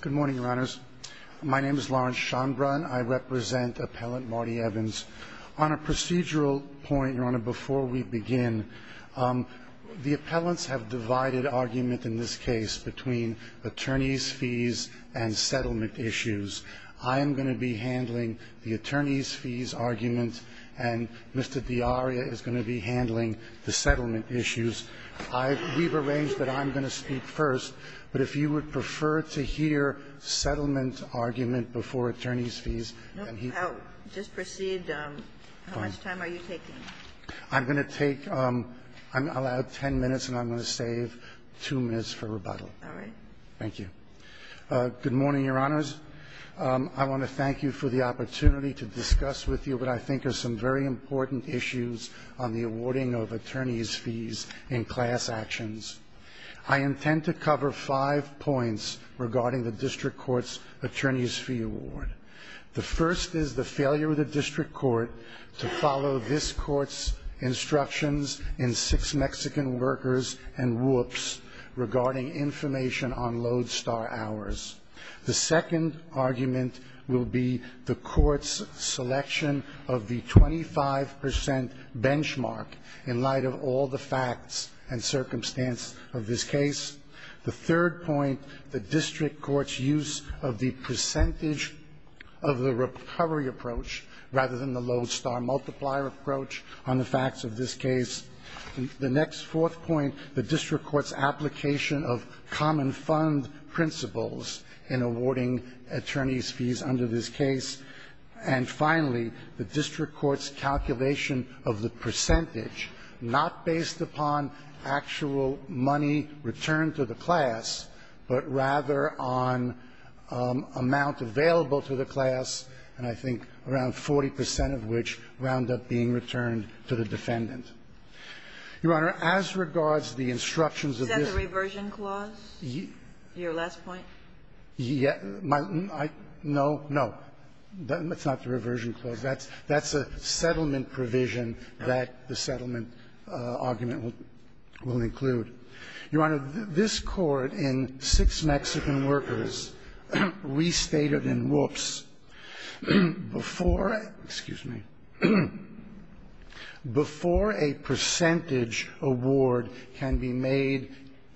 Good morning, Your Honors. My name is Lawrence Shonbrun. I represent Appellant Marty Evans. On a procedural point, Your Honor, before we begin, the appellants have divided argument in this case between attorneys' fees and settlement issues. I am going to be handling the attorneys' fees argument, and Mr. D'Aria is going to be handling the settlement issues. We've arranged that I'm going to speak first, but if you would prefer to hear settlement argument before attorneys' fees, then he can. No, just proceed. How much time are you taking? I'm going to take – I'll add 10 minutes, and I'm going to save 2 minutes for rebuttal. All right. Thank you. Good morning, Your Honors. I want to thank you for the opportunity to discuss with you what I think are some very important issues on the awarding of attorneys' fees in class actions. I intend to cover five points regarding the district court's attorneys' fee award. The first is the failure of the district court to follow this court's instructions in Six Mexican Workers and Whoops regarding information on lodestar hours. The second argument will be the court's selection of the 25 percent benchmark in light of all the facts and circumstances of this case. The third point, the district court's use of the percentage of the recovery approach rather than the lodestar multiplier approach on the facts of this case. The next fourth point, the district court's application of common fund principles in awarding attorneys' fees under this case. And finally, the district court's calculation of the percentage, not based upon actual money returned to the class, but rather on amount available to the class, and I think around 40 percent of which wound up being returned to the defendant. Your Honor, as regards the instructions of this ---- Is that the reversion clause? Your last point? Yeah, my ---- no, no. That's not the reversion clause. That's a settlement provision that the settlement argument will include. Your Honor, this Court in Six Mexican Workers restated in Whoops, before ---- excuse me ---- before a percentage award can be made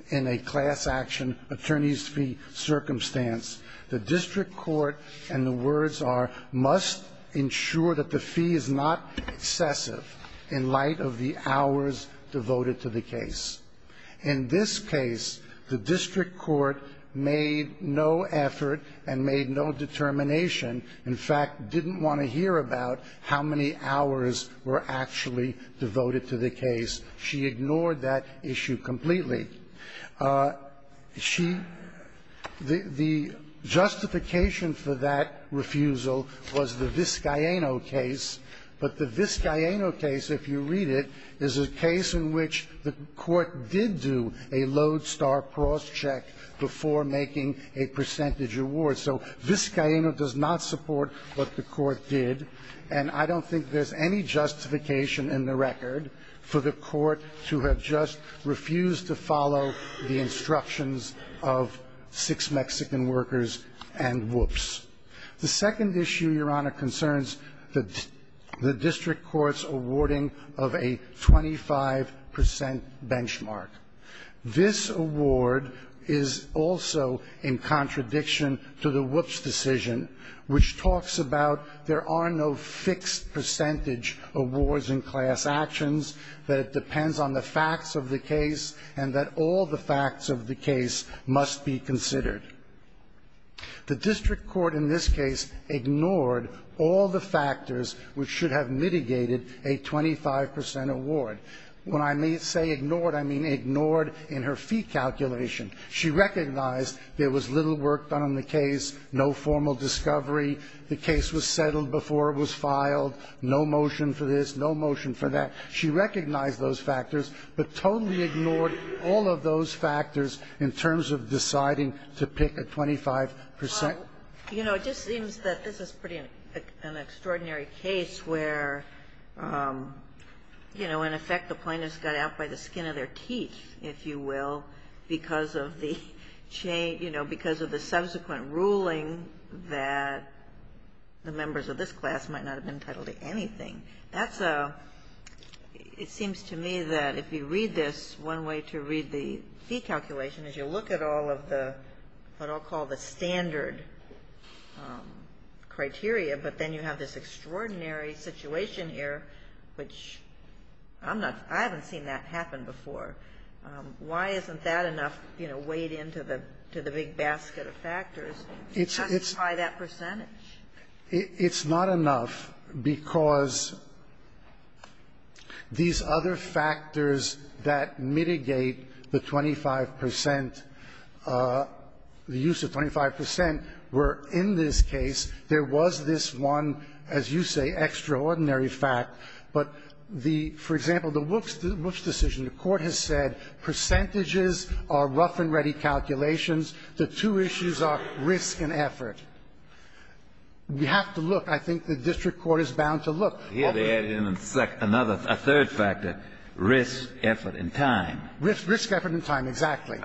in a class action, attorneys' fee circumstance, the district court, and the words are, must ensure that the fee is not excessive in light of the hours devoted to the case. In this case, the district court made no effort and made no determination, in fact, didn't want to hear about how many hours were actually devoted to the case. She ignored that issue completely. She ---- the justification for that refusal was the Vizcaíno case, but the Vizcaíno case, if you read it, is a case in which the court did do a lodestar crosscheck before making a percentage award. So Vizcaíno does not support what the court did, and I don't think there's any justification in the record for the court to have just refused to follow the instructions of Six Mexican Workers and Whoops. The second issue, Your Honor, concerns the district court's awarding of a 25 percent benchmark. This award is also in contradiction to the Whoops decision, which talks about there are no fixed percentage awards in class actions, that it depends on the facts of the case, and that all the facts of the case must be considered. The district court in this case ignored all the factors which should have mitigated a 25 percent award. When I say ignored, I mean ignored in her fee calculation. She recognized there was little work done on the case, no formal discovery, the case was settled before it was filed, no motion for this, no motion for that. She recognized those factors, but totally ignored all of those factors in terms of deciding to pick a 25 percent. You know, it just seems that this is pretty an extraordinary case where, you know, in effect the plaintiffs got out by the skin of their teeth, if you will, because of the chain, you know, because of the subsequent ruling that the members of this class might not have been entitled to anything. That's a ‑‑ it seems to me that if you read this, one way to read the fee calculation is you look at all of the what I'll call the standard criteria, but then you have this extraordinary situation here, which I'm not ‑‑ I haven't seen that happen before. Why isn't that enough, you know, weighed into the big basket of factors to justify that percentage? It's not enough because these other factors that mitigate the 25 percent, the use of 25 percent, were in this case, there was this one, as you say, extraordinary fact, but the ‑‑ for example, the Wooks decision, the Court has said percentages are rough and ready calculations. The two issues are risk and effort. We have to look. I think the district court is bound to look. Here they added in a third factor, risk, effort, and time. Risk, effort, and time, exactly.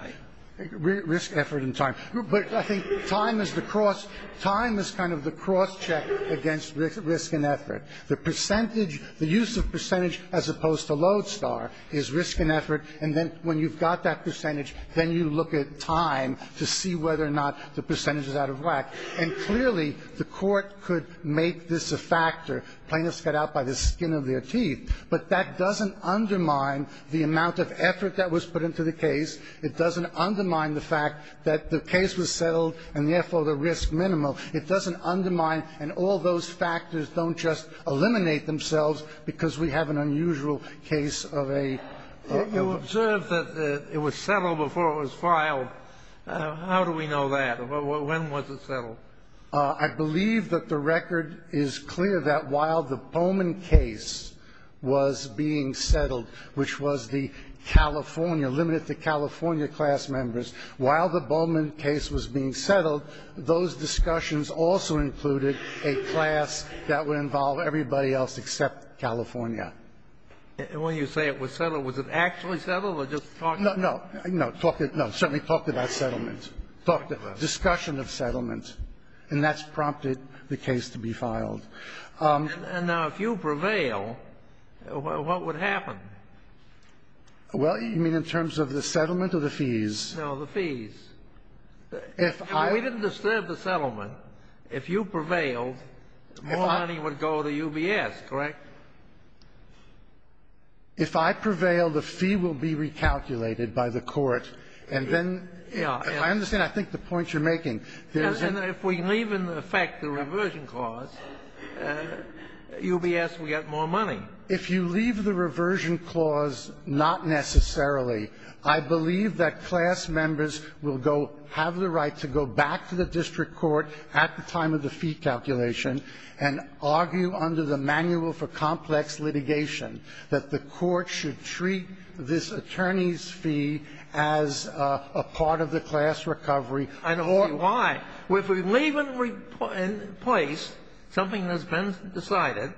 Risk, effort, and time. But I think time is the cross ‑‑ time is kind of the cross check against risk and effort. The percentage ‑‑ the use of percentage as opposed to Lodestar is risk and effort, and then when you've got that percentage, then you look at time to see whether or not the percentage is out of whack. And clearly the Court could make this a factor, plaintiffs cut out by the skin of their teeth, but that doesn't undermine the amount of effort that was put into the case. It doesn't undermine the fact that the case was settled, and therefore the risk minimal. It doesn't undermine, and all those factors don't just eliminate themselves because we have an unusual case of a ‑‑ You observed that it was settled before it was filed. How do we know that? When was it settled? I believe that the record is clear that while the Bowman case was being settled, which was the California, limited to California class members, while the Bowman case was being settled, those discussions also included a class that would involve everybody else except California. And when you say it was settled, was it actually settled or just talked about? No, no, certainly talked about settlement. Discussion of settlement, and that's prompted the case to be filed. And now if you prevail, what would happen? Well, you mean in terms of the settlement or the fees? No, the fees. If I ‑‑ We didn't disturb the settlement. If you prevailed, Mulhoney would go to UBS, correct? If I prevail, the fee will be recalculated by the court, and then ‑‑ Yes. I understand. I think the point you're making ‑‑ And if we leave in effect the reversion clause, UBS will get more money. If you leave the reversion clause, not necessarily. I believe that class members will go ‑‑ have the right to go back to the district court at the time of the fee recalculation and argue under the Manual for Complex Litigation that the court should treat this attorney's fee as a part of the class recovery. I don't see why. If we leave in place something that's been decided,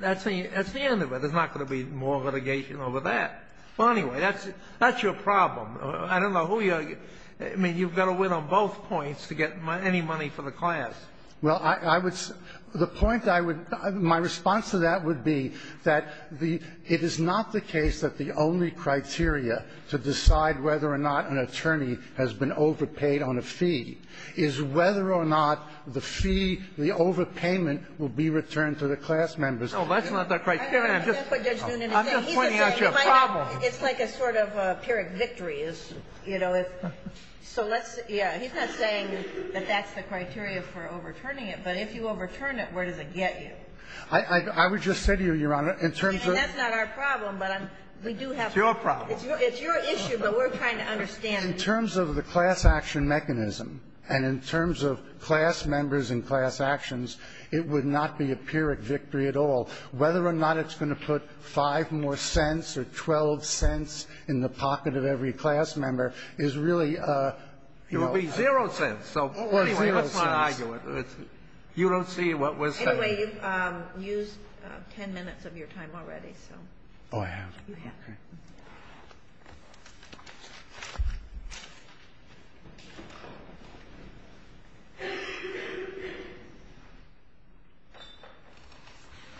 that's the end of it. There's not going to be more litigation over that. Well, anyway, that's your problem. I don't know who you are. I mean, you've got to win on both points to get any money for the class. Well, I would ‑‑ the point I would ‑‑ my response to that would be that it is not the case that the only criteria to decide whether or not an attorney has been overpaid on a fee is whether or not the fee, the overpayment, will be returned to the class members. No, that's not the criteria. I'm just pointing out your problem. It's like a sort of a pyrrhic victory, you know. So let's ‑‑ yeah. He's not saying that that's the criteria for overturning it, but if you overturn it, where does it get you? I would just say to you, Your Honor, in terms of ‑‑ And that's not our problem, but we do have ‑‑ It's your problem. It's your issue, but we're trying to understand it. In terms of the class action mechanism and in terms of class members and class actions, it would not be a pyrrhic victory at all. Whether or not it's going to put 5 more cents or 12 cents in the pocket of every class member is really a ‑‑ It would be zero cents. So, anyway, let's not argue it. You don't see what we're saying. Anyway, you've used 10 minutes of your time already, so. Oh, I have? You have.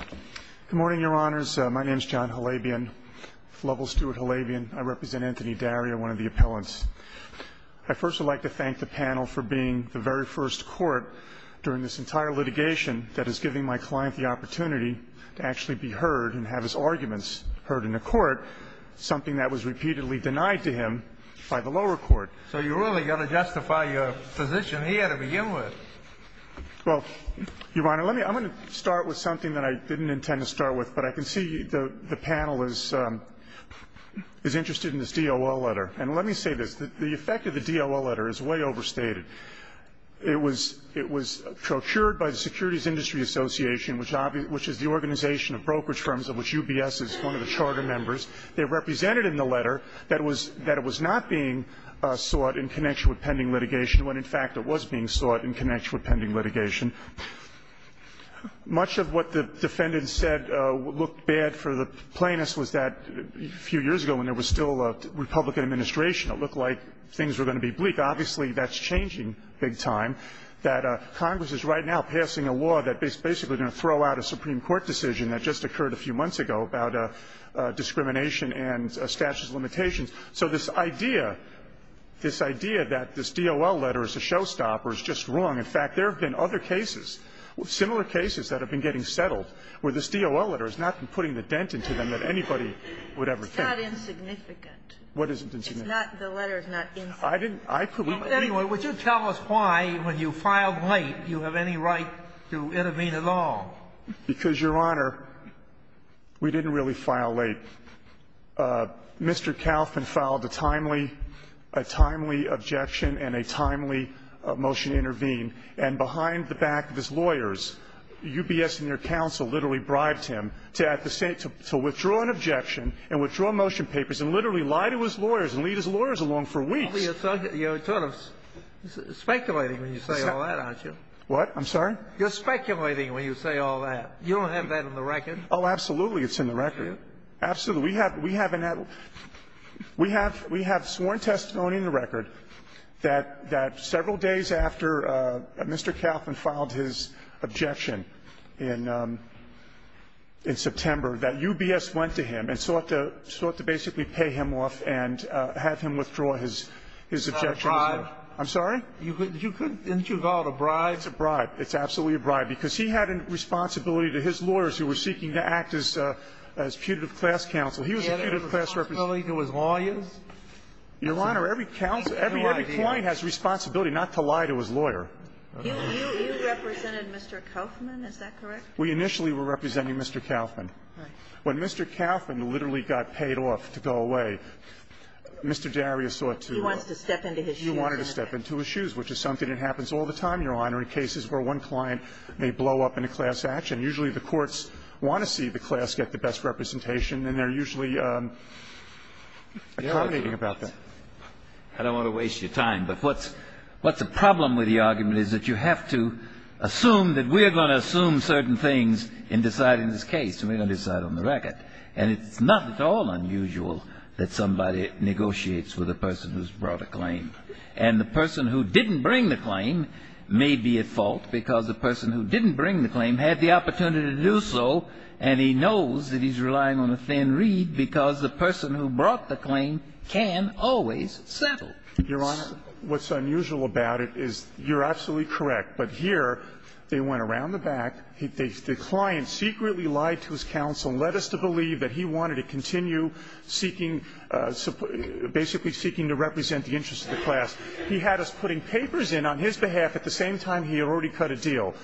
Okay. Good morning, Your Honors. My name is John Halabian, Lovell Stewart Halabian. I represent Anthony Daria, one of the appellants. I first would like to thank the panel for being the very first court during this entire litigation that is giving my client the opportunity to actually be heard and have his arguments heard in a court, something that was repeatedly denied to him by the lower court. So you really got to justify your position here to begin with. Well, Your Honor, let me ‑‑ I'm going to start with something that I didn't intend to start with, but I can see the panel is interested in this DOL letter. And let me say this. The effect of the DOL letter is way overstated. It was procured by the Securities Industry Association, which is the organization of brokerage firms of which UBS is one of the charter members. They represented in the letter that it was not being sought in connection with pending litigation when, in fact, it was being sought in connection with pending litigation. Much of what the defendant said looked bad for the plaintiffs was that a few years ago, when there was still a Republican administration, it looked like things were going to be bleak. Obviously, that's changing big time, that Congress is right now passing a law that is basically going to throw out a Supreme Court decision that just occurred a few months ago about discrimination and statute of limitations. So this idea, this idea that this DOL letter is a showstopper is just wrong. In fact, there have been other cases, similar cases, that have been getting settled where this DOL letter has not been putting the dent into them that anybody would ever think. It's not insignificant. What isn't insignificant? It's not the letter is not insignificant. I didn't put it in there. Anyway, would you tell us why, when you filed late, you have any right to intervene at all? Because, Your Honor, we didn't really file late. Mr. Kaufman filed a timely, a timely objection and a timely motion to intervene. And behind the back of his lawyers, UBS and their counsel literally bribed him to withdraw an objection and withdraw motion papers and literally lie to his lawyers and lead his lawyers along for weeks. You're sort of speculating when you say all that, aren't you? What? I'm sorry? You're speculating when you say all that. You don't have that in the record. Oh, absolutely. It's in the record. Absolutely. We have sworn testimony in the record that several days after Mr. Kaufman filed his objection in September, that UBS went to him and sought to basically pay him off and have him withdraw his objection. Is that a bribe? I'm sorry? You could, didn't you call it a bribe? It's a bribe. It's absolutely a bribe. Because he had a responsibility to his lawyers who were seeking to act as putative class counsel. He was a putative class representative. He had a responsibility to his lawyers? Your Honor, every client has a responsibility not to lie to his lawyer. You represented Mr. Kaufman, is that correct? We initially were representing Mr. Kaufman. When Mr. Kaufman literally got paid off to go away, Mr. Darius sought to step into his shoes, which is something that happens all the time, Your Honor, in cases where one client may blow up in a class action. Usually the courts want to see the class get the best representation, and they're usually accommodating about that. I don't want to waste your time, but what's the problem with the argument is that you have to assume that we're going to assume certain things in deciding this case, and we're going to decide on the record. And it's not at all unusual that somebody negotiates with a person who's brought a claim. And the person who didn't bring the claim may be at fault, because the person who didn't bring the claim had the opportunity to do so, and he knows that he's relying on a thin reed, because the person who brought the claim can always settle. Your Honor, what's unusual about it is you're absolutely correct. But here, they went around the back. The client secretly lied to his counsel and led us to believe that he wanted to continue seeking, basically seeking to represent the interests of the class. He had us putting papers in on his behalf at the same time he had already cut a deal.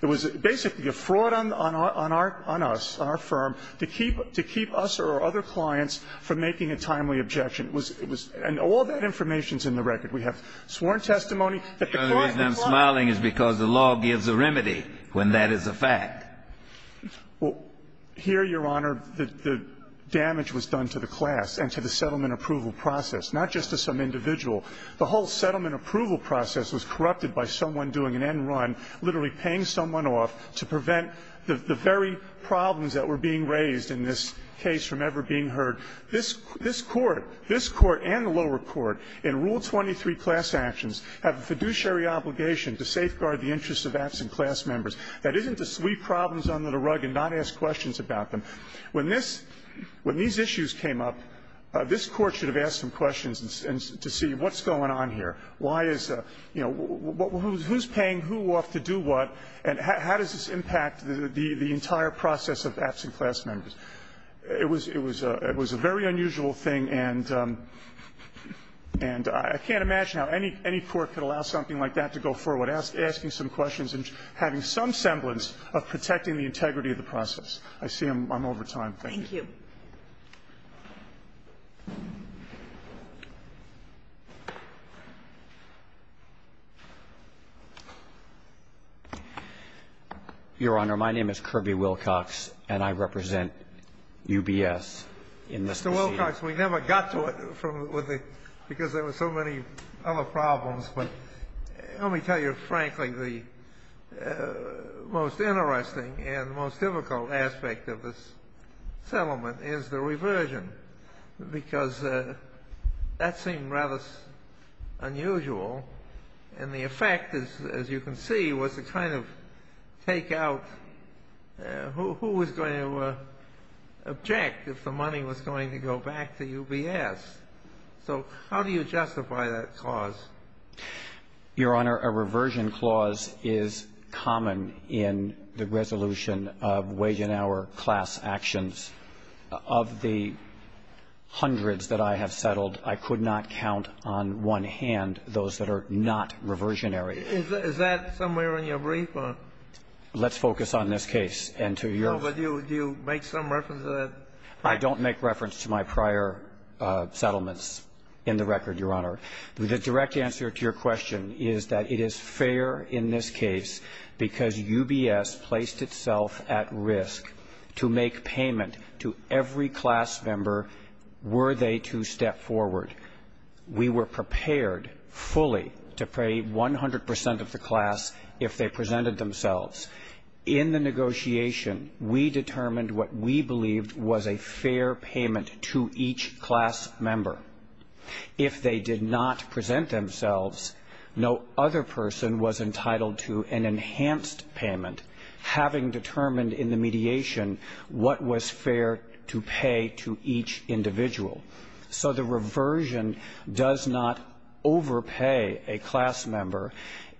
It was basically a fraud on our firm to keep us or our other clients from making a timely objection, and all that information's in the record. We have sworn testimony that the client lied to us. The only reason I'm smiling is because the law gives a remedy when that is a fact. Well, here, Your Honor, the damage was done to the class and to the settlement approval process, not just to some individual. The whole settlement approval process was corrupted by someone doing an end run, literally paying someone off to prevent the very problems that were being raised in this case from ever being heard. This Court, this Court and the lower court in Rule 23 class actions have a fiduciary obligation to safeguard the interests of absent class members. That isn't to sweep problems under the rug and not ask questions about them. When this – when these issues came up, this Court should have asked some questions to see what's going on here. Why is – you know, who's paying who off to do what, and how does this impact the entire process of absent class members? It was a very unusual thing, and I can't imagine how any court could allow something like that to go forward, asking some questions and having some semblance of protecting the integrity of the process. I see I'm over time. Thank you. Thank you. Your Honor, my name is Kirby Wilcox, and I represent UBS in this proceeding. Mr. Wilcox, we never got to it from – with the – because there were so many other problems. But let me tell you frankly, the most interesting and the most difficult aspect of this settlement is the reversion, because that seemed rather unusual, and the effect, as you can see, was to kind of take out who was going to object if the money was going to go back to UBS. So how do you justify that clause? Your Honor, a reversion clause is common in the resolution of wage and hour class actions. Of the hundreds that I have settled, I could not count on one hand those that are not reversionary. Is that somewhere on your brief, or? Let's focus on this case and to your question. No, but do you make some reference to that? I don't make reference to my prior settlements in the record, Your Honor. The direct answer to your question is that it is fair in this case because UBS placed itself at risk to make payment to every class member were they to step forward. We were prepared fully to pay 100 percent of the class if they presented themselves. In the negotiation, we determined what we believed was a fair payment to each class member. If they did not present themselves, no other person was entitled to an enhanced payment having determined in the mediation what was fair to pay to each individual. So the reversion does not overpay a class member.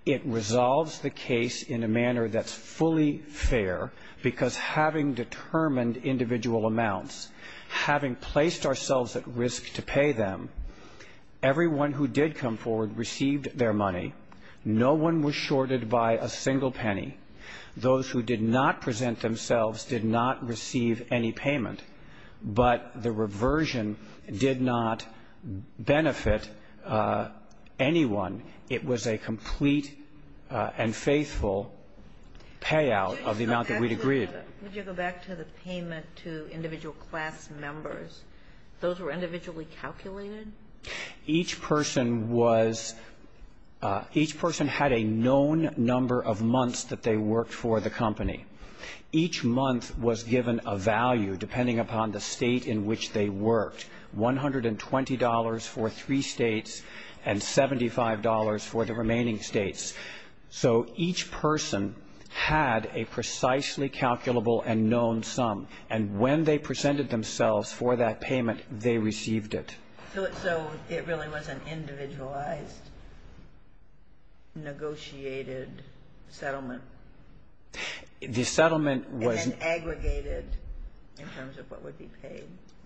It resolves the case in a manner that's fully fair because having determined individual amounts, having placed ourselves at risk to pay them, everyone who did come forward received their money. No one was shorted by a single penny. Those who did not present themselves did not receive any payment. But the reversion did not benefit anyone. It was a complete and faithful payout of the amount that we'd agreed. Would you go back to the payment to individual class members? Those were individually calculated? Each person had a known number of months that they worked for the company. Each month was given a value depending upon the state in which they worked. $120 for three states and $75 for the remaining states. So each person had a precisely calculable and known sum. And when they presented themselves for that payment, they received it. So it really was an individualized, negotiated settlement? The settlement was an aggregated in terms of what would be paid.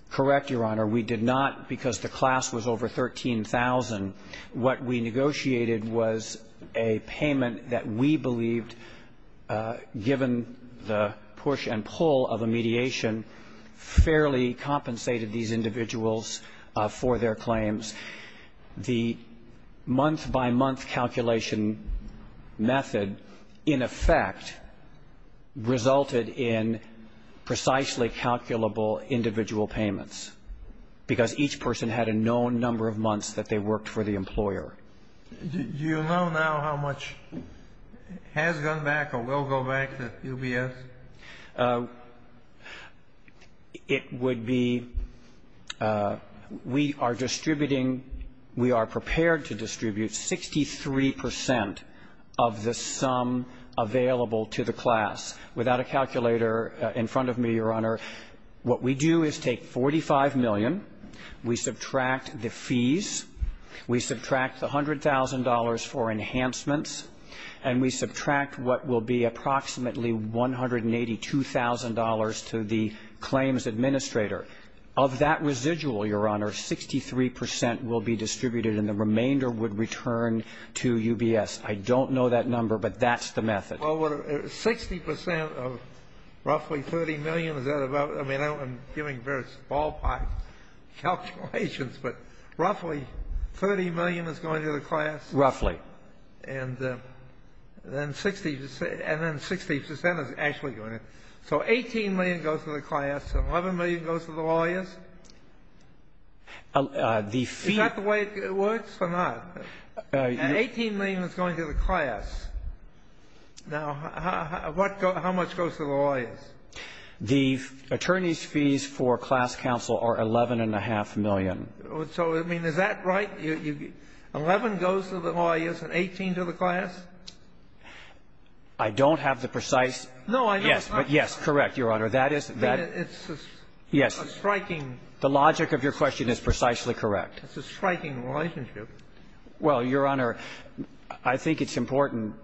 Correct, Your Honor. We did not, because the class was over 13,000, what we negotiated was a payment that we believed, given the push and pull of a mediation, fairly compensated these individuals for their claims. The month-by-month calculation method, in effect, resulted in precisely calculable individual payments, because each person had a known number of months that they worked for the employer. Do you know now how much has gone back or will go back to UBS? It would be, we are distributing, we are prepared to distribute 63 percent of the sum available to the class. Without a calculator in front of me, Your Honor, what we do is take 45 million, we subtract the fees, we subtract the $100,000 for enhancements, and we subtract what will be approximately $182,000 to the claims administrator. Of that residual, Your Honor, 63 percent will be distributed and the remainder would return to UBS. I don't know that number, but that's the method. Well, what, 60 percent of roughly 30 million, is that about, I mean, I'm giving very small pie calculations, but roughly 30 million is going to the class? Roughly. And then 60 percent is actually going to, so 18 million goes to the class and 11 million goes to the lawyers? Is that the way it works or not? And 18 million is going to the class. Now, how much goes to the lawyers? The attorney's fees for class counsel are 11.5 million. So, I mean, is that right? 11 goes to the lawyers and 18 to the class? I don't have the precise. No, I know. Yes, but yes, correct, Your Honor. That is, that. It's a striking. The logic of your question is precisely correct. It's a striking relationship. Well, Your Honor, I think it's important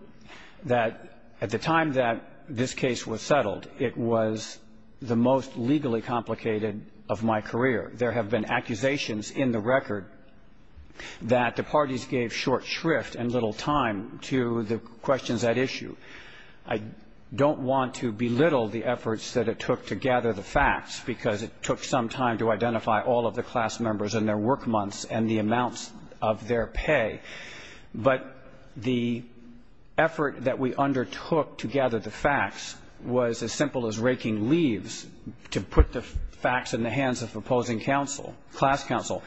that at the time that this case was settled, it was the most legally complicated of my career. There have been accusations in the record that the parties gave short shrift and little time to the questions at issue. I don't want to belittle the efforts that it took to gather the facts because it took some time to identify all of the class members and their work months and the amounts of their pay. But the effort that we undertook to gather the facts was as simple as raking leaves to put the facts in the hands of opposing counsel, class counsel,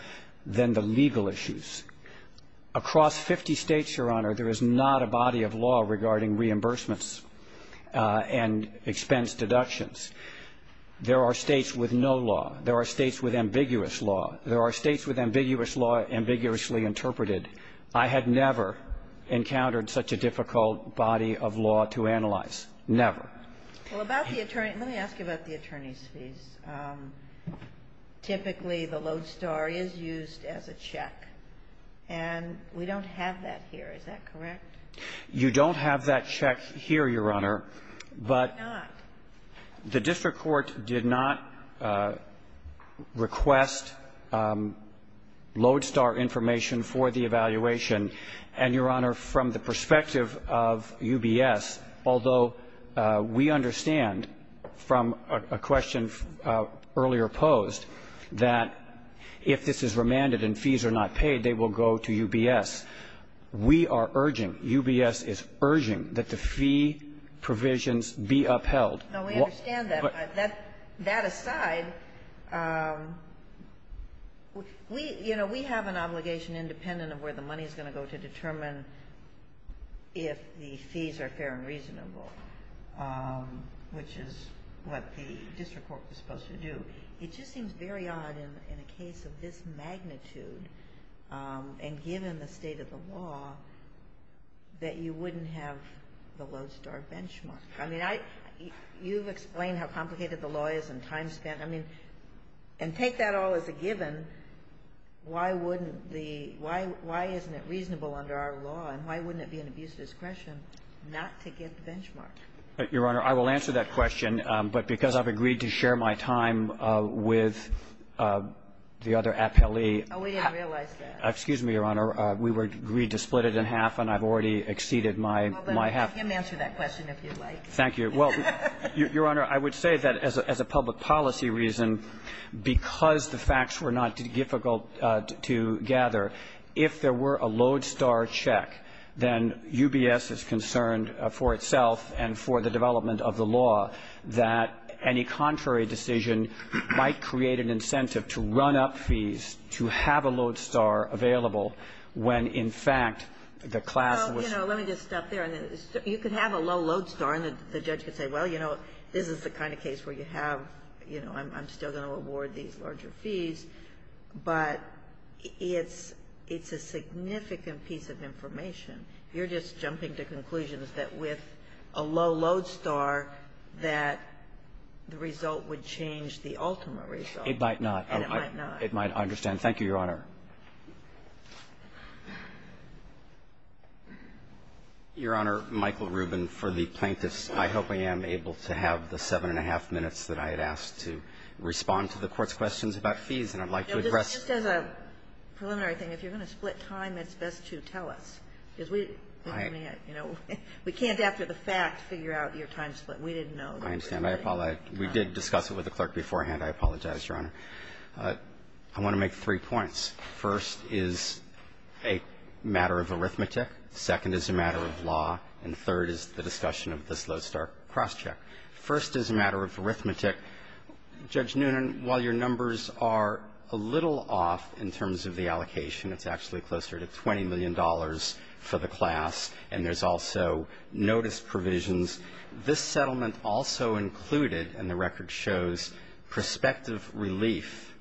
than the legal issues. Across 50 states, Your Honor, there is not a body of law regarding reimbursements and expense deductions. There are states with no law. There are states with ambiguous law. There are states with ambiguous law ambiguously interpreted. I had never encountered such a difficult body of law to analyze. Never. Well, let me ask you about the attorney's fees. Typically, the Lodestar is used as a check, and we don't have that here. Is that correct? You don't have that check here, Your Honor. Why not? The district court did not request Lodestar information for the evaluation. And, Your Honor, from the perspective of UBS, although we understand from a question earlier posed that if this is remanded and fees are not paid, they will go to UBS. We are urging, UBS is urging, that the fee provisions be upheld. No, we understand that. That aside, we have an obligation, independent of where the money is going to go, to determine if the fees are fair and reasonable, which is what the district court was supposed to do. It just seems very odd in a case of this magnitude, and given the state of the law, that you wouldn't have the Lodestar benchmark. I mean, you've explained how complicated the law is and time spent. I mean, and take that all as a given, why wouldn't the why isn't it reasonable under our law? And why wouldn't it be an abuse of discretion not to get the benchmark? Your Honor, I will answer that question. But because I've agreed to share my time with the other appellee. Oh, we didn't realize that. Excuse me, Your Honor. We were agreed to split it in half, and I've already exceeded my half. You can answer that question if you'd like. Thank you. Well, Your Honor, I would say that as a public policy reason, because the facts were not difficult to gather, if there were a Lodestar check, then UBS is concerned for itself and for the development of the law that any contrary decision might create an incentive to run up fees to have a Lodestar available when, in fact, the class was. Well, you know, let me just stop there. You could have a low Lodestar, and the judge could say, well, you know, this is the kind of case where you have, you know, I'm still going to award these larger fees. But it's a significant piece of information. You're just jumping to conclusions that with a low Lodestar that the result would change the ultimate result. It might not. And it might not. It might not. I understand. Thank you, Your Honor. Your Honor, Michael Rubin for the plaintiffs. I hope I am able to have the seven and a half minutes that I had asked to respond to the Court's questions about fees, and I'd like to address. Just as a preliminary thing, if you're going to split time, it's best to tell us. Because we can't, after the fact, figure out your time split. We didn't know. I understand. I apologize. We did discuss it with the clerk beforehand. I apologize, Your Honor. I want to make three points. First is a matter of arithmetic. Second is a matter of law. And third is the discussion of this Lodestar crosscheck. First is a matter of arithmetic. Judge Noonan, while your numbers are a little off in terms of the allocation, it's actually closer to $20 million for the class. And there's also notice provisions. This settlement also included, and the record shows, prospective relief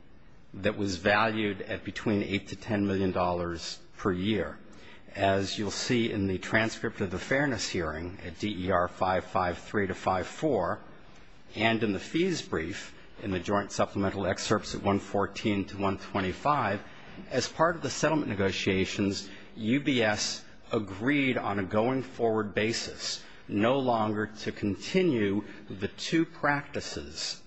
that was valued at between $8 to $10 million per year. As you'll see in the transcript of the fairness hearing at DER 553 to 54, and in the fees brief in the joint supplemental excerpts at 114 to 125, as part of the settlement negotiations, UBS agreed on a going forward basis no longer to continue the two practices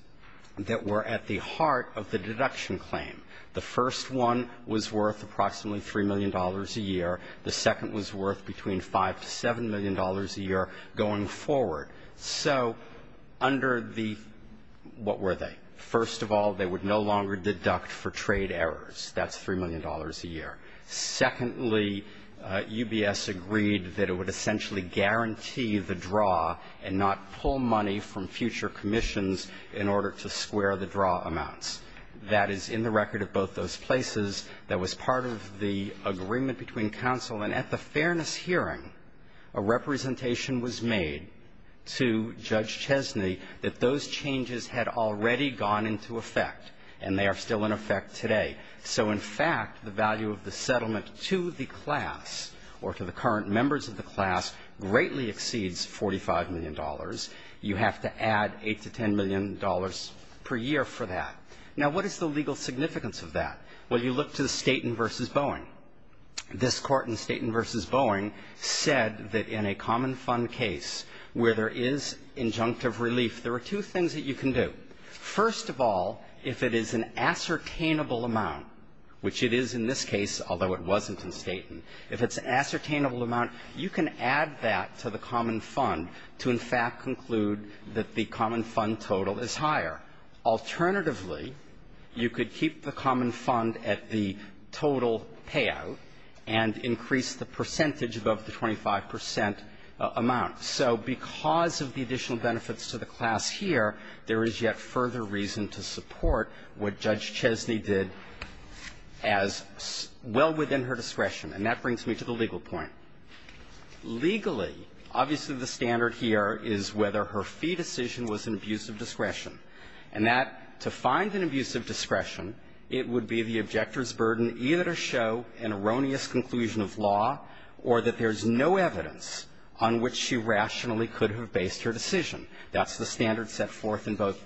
that were at the heart of the deduction claim. The first one was worth approximately $3 million a year. The second was worth between $5 to $7 million a year going forward. So under the what were they? First of all, they would no longer deduct for trade errors. That's $3 million a year. Secondly, UBS agreed that it would essentially guarantee the draw and not pull money from future commissions in order to square the draw amounts. That is in the record at both those places. That was part of the agreement between counsel. And at the fairness hearing, a representation was made to Judge Chesney that those changes had already gone into effect and they are still in effect today. So in fact, the value of the settlement to the class or to the current members of the class greatly exceeds $45 million. You have to add $8 to $10 million per year for that. Now, what is the legal significance of that? Well, you look to Staten v. Boeing. This court in Staten v. Boeing said that in a common fund case where there is injunctive relief, there are two things that you can do. First of all, if it is an ascertainable amount, which it is in this case, although it wasn't in Staten, if it's an ascertainable amount, you can add that to the common fund to in fact conclude that the common fund total is higher. Alternatively, you could keep the common fund at the total payout and increase the percentage above the 25 percent amount. So because of the additional benefits to the class here, there is yet further reason to support what Judge Chesney did as well within her discretion. And that brings me to the legal point. Legally, obviously the standard here is whether her fee decision was an abuse of discretion. And that, to find an abuse of discretion, it would be the objector's burden either to show an erroneous conclusion of law or that there is no evidence on which she rationally could have based her decision. That's the standard set forth in both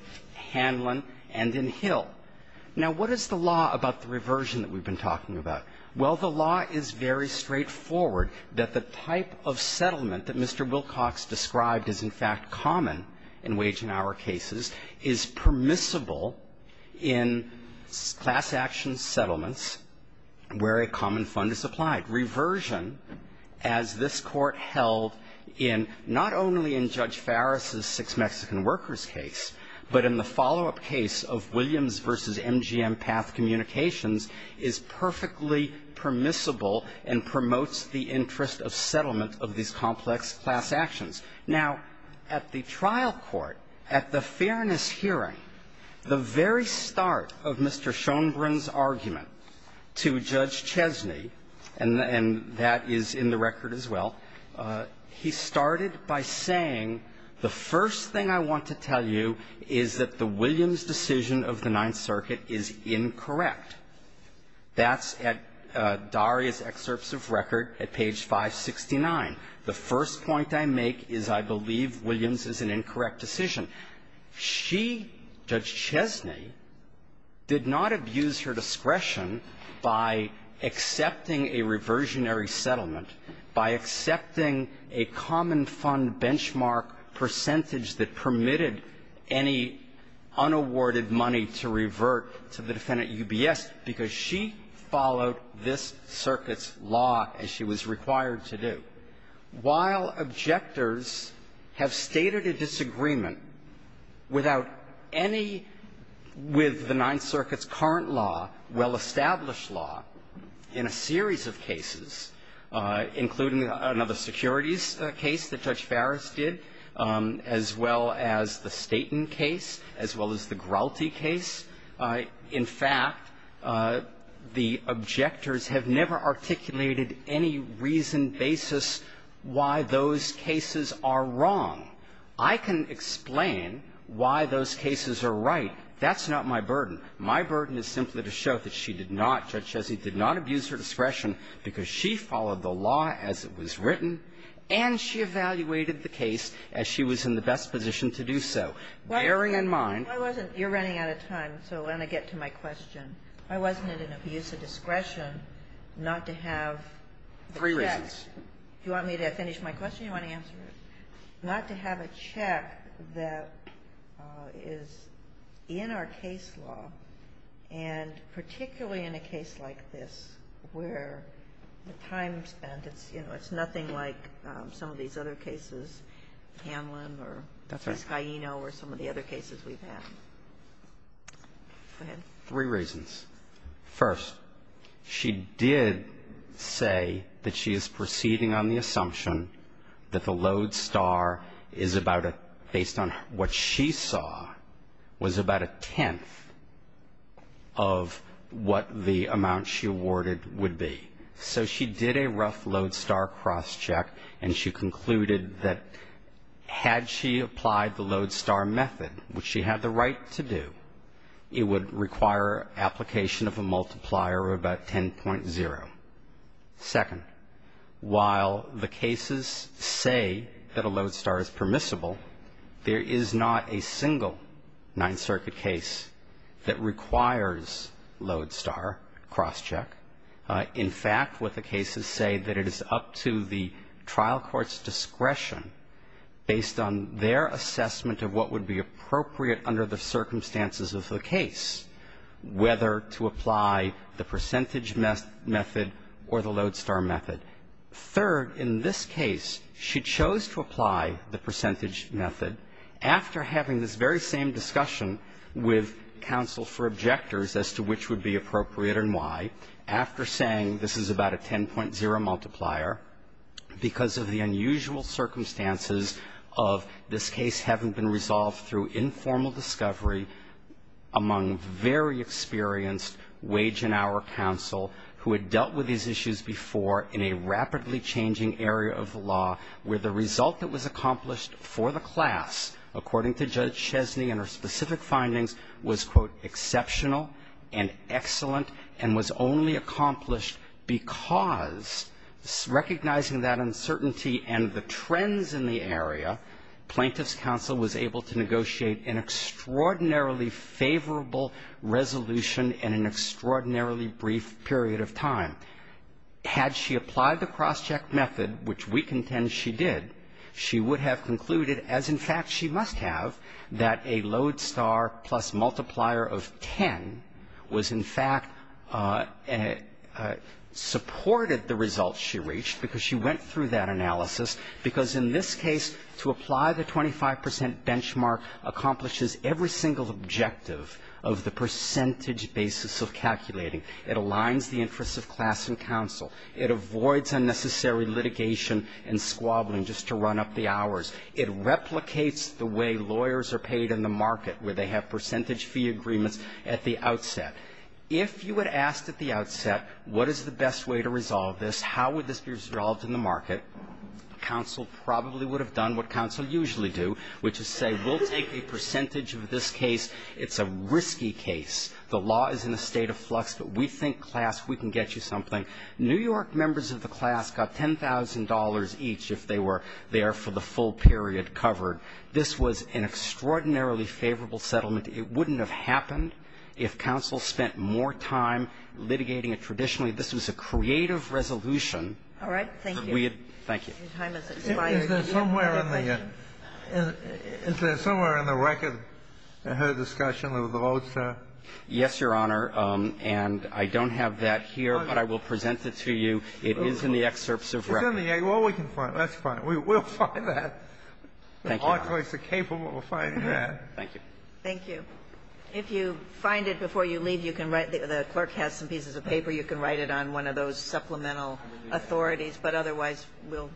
Hanlon and in Hill. Now, what is the law about the reversion that we've been talking about? Well, the law is very straightforward that the type of settlement that Mr. Wilcox described is in fact common in wage and hour cases is permissible in class action settlements where a common fund is applied. Reversion, as this Court held in not only in Judge Farris' Six Mexican Workers case, but in the follow-up case of Williams v. MGM Path Communications, is perfectly permissible and promotes the interest of settlement of these complex class actions. Now, at the trial court, at the fairness hearing, the very start of Mr. Schonbrunn's argument to Judge Chesney, and that is in the record as well, he started by saying, the first thing I want to tell you is that the Williams decision of the Ninth Circuit is incorrect. That's at Daria's excerpts of record at page 569. The first point I make is I believe Williams is an incorrect decision. She, Judge Chesney, did not abuse her discretion by accepting a reversionary settlement, by accepting a common fund benchmark percentage that permitted any unawarded money to revert to the defendant, UBS, because she followed this circuit's law as she was required to do. While objectors have stated a disagreement without any with the Ninth Circuit's current law, well-established law, in a series of cases, including another securities case that Judge Farris did, as well as the Staten case, as well as the Grouty case, in fact, the objectors have never articulated any reason, basis why those cases are wrong. I can explain why those cases are right. That's not my burden. My burden is simply to show that she did not, Judge Chesney, did not abuse her discretion because she followed the law as it was written and she evaluated the case as she was in the best position to do so, bearing in mind. Why wasn't you're running out of time, so when I get to my question, why wasn't it an abuse of discretion not to have the facts? Three reasons. Do you want me to finish my question or do you want to answer it? Not to have a check that is in our case law and particularly in a case like this where the time spent, it's nothing like some of these other cases, Hanlon or Piscaeno or some of the other cases we've had. Go ahead. Three reasons. First, she did say that she is proceeding on the assumption that the load star is about a, based on what she saw, was about a tenth of what the amount she awarded would be. So she did a rough load star cross check and she concluded that had she applied the load star method, which she had the right to do, it would require application of a multiplier of about 10.0. Second, while the cases say that a load star is permissible, there is not a single Ninth Circuit case that requires load star cross check. In fact, what the cases say that it is up to the trial court's discretion based on their assessment of what would be appropriate under the circumstances of the case, whether to apply the percentage method or the load star method. Third, in this case, she chose to apply the percentage method after having this very same discussion with counsel for objectors as to which would be appropriate and why, after saying this is about a 10.0 multiplier, because of the unusual circumstances of this case having been resolved through informal discovery among very experienced wage and hour counsel who had dealt with these issues before in a rapidly changing area of law where the result that was accomplished for the class, according to Judge Chesney and her specific findings, was, quote, exceptional and excellent and was only accomplished because, recognizing that uncertainty and the trends in the area, plaintiff's counsel was able to negotiate an extraordinarily favorable resolution in an extraordinarily brief period of time. Had she applied the cross-check method, which we contend she did, she would have concluded, as, in fact, she must have, that a load star plus multiplier of 10 was, in fact, supported the results she reached because she went through that analysis because, in this case, to apply the 25% benchmark accomplishes every single objective of the percentage basis of calculating. It aligns the interests of class and counsel. It avoids unnecessary litigation and squabbling just to run up the hours. It replicates the way lawyers are paid in the market where they have percentage fee agreements at the outset. If you had asked at the outset what is the best way to resolve this, how would this be resolved in the market, counsel probably would have done what counsel usually do, which is say, we'll take a percentage of this case. It's a risky case. The law is in a state of flux, but we think, class, we can get you something. New York members of the class got $10,000 each if they were there for the full period covered. This was an extraordinarily favorable settlement. It wouldn't have happened if counsel spent more time litigating it traditionally. This was a creative resolution. All right, thank you. Thank you. Is there somewhere in the record in her discussion with Loza? Yes, Your Honor. And I don't have that here, but I will present it to you. It is in the excerpts of record. It's in the excerpt. That's fine. We'll find that. Thank you, Your Honor. We'll find that. Thank you. Thank you. If you find it before you leave, you can write it. The clerk has some pieces of paper. You can write it on one of those supplemental authorities, but otherwise we'll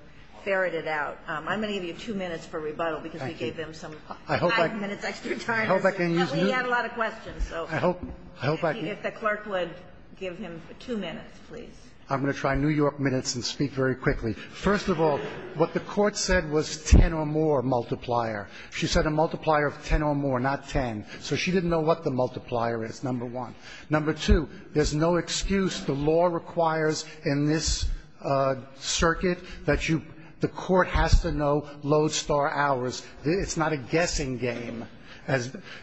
ferret it out. I'm going to give you two minutes for rebuttal because we gave them some five minutes. We had a lot of questions. If the clerk would give him two minutes, please. I'm going to try New York minutes and speak very quickly. First of all, what the Court said was 10 or more multiplier. She said a multiplier of 10 or more, not 10. So she didn't know what the multiplier is, number one. Number two, there's no excuse. The law requires in this circuit that the Court has to know Lodestar hours. It's not a guessing game.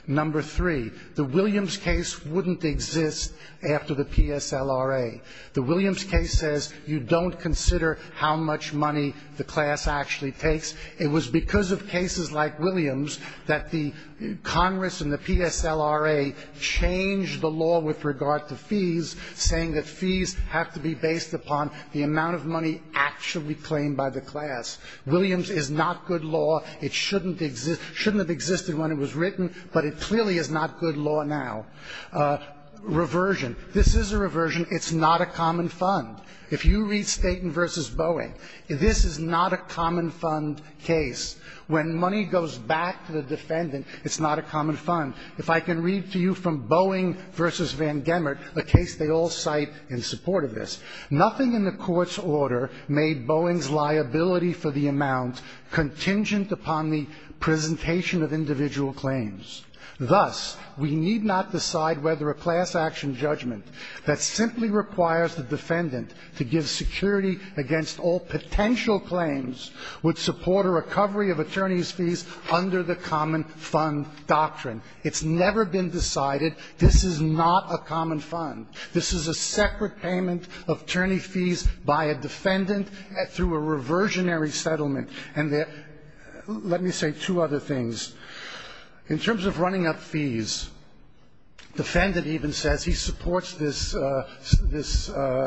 Number three, the Williams case wouldn't exist after the PSLRA. The Williams case says you don't consider how much money the class actually takes. It was because of cases like Williams that the Congress and the PSLRA changed the law with regard to fees, saying that fees have to be based upon the amount of money actually claimed by the class. Williams is not good law. It shouldn't have existed when it was written, but it clearly is not good law now. Reversion. This is a reversion. It's not a common fund. If you read Staten v. Boeing, this is not a common fund case. When money goes back to the defendant, it's not a common fund. If I can read to you from Boeing v. Van Gemert, a case they all cite in support of this. Nothing in the Court's order made Boeing's liability for the amount contingent upon the presentation of individual claims. Thus, we need not decide whether a class action judgment that simply requires the defendant to give security against all potential claims would support a recovery of attorney's fees under the common fund doctrine. It's never been decided this is not a common fund. This is a separate payment of attorney fees by a defendant through a reversionary settlement, and there... Let me say two other things. In terms of running up fees, the defendant even says he supports this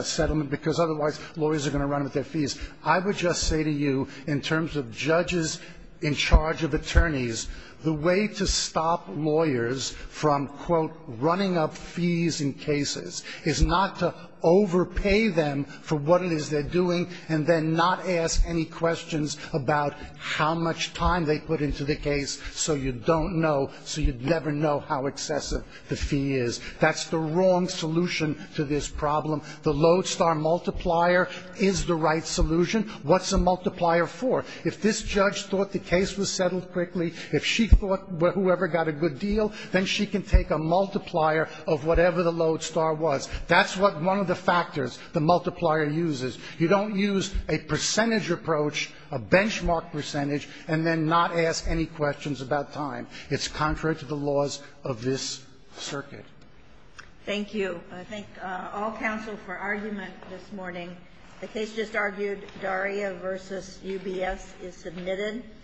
settlement because otherwise lawyers are going to run up their fees. I would just say to you, in terms of judges in charge of attorneys, the way to stop lawyers from, quote, running up fees in cases is not to overpay them for what it is they're doing and then not ask any questions about how much time they put into the case so you don't know, so you never know how excessive the fee is. That's the wrong solution to this problem. The lodestar multiplier is the right solution. What's the multiplier for? If this judge thought the case was settled quickly, if she thought whoever got a good deal, then she can take a multiplier of whatever the lodestar was. That's one of the factors the multiplier uses. You don't use a percentage approach, a benchmark percentage, and then not ask any questions about time. It's contrary to the laws of this circuit. Thank you. I thank all counsel for argument this morning. The case just argued, Daria v. UBS is submitted.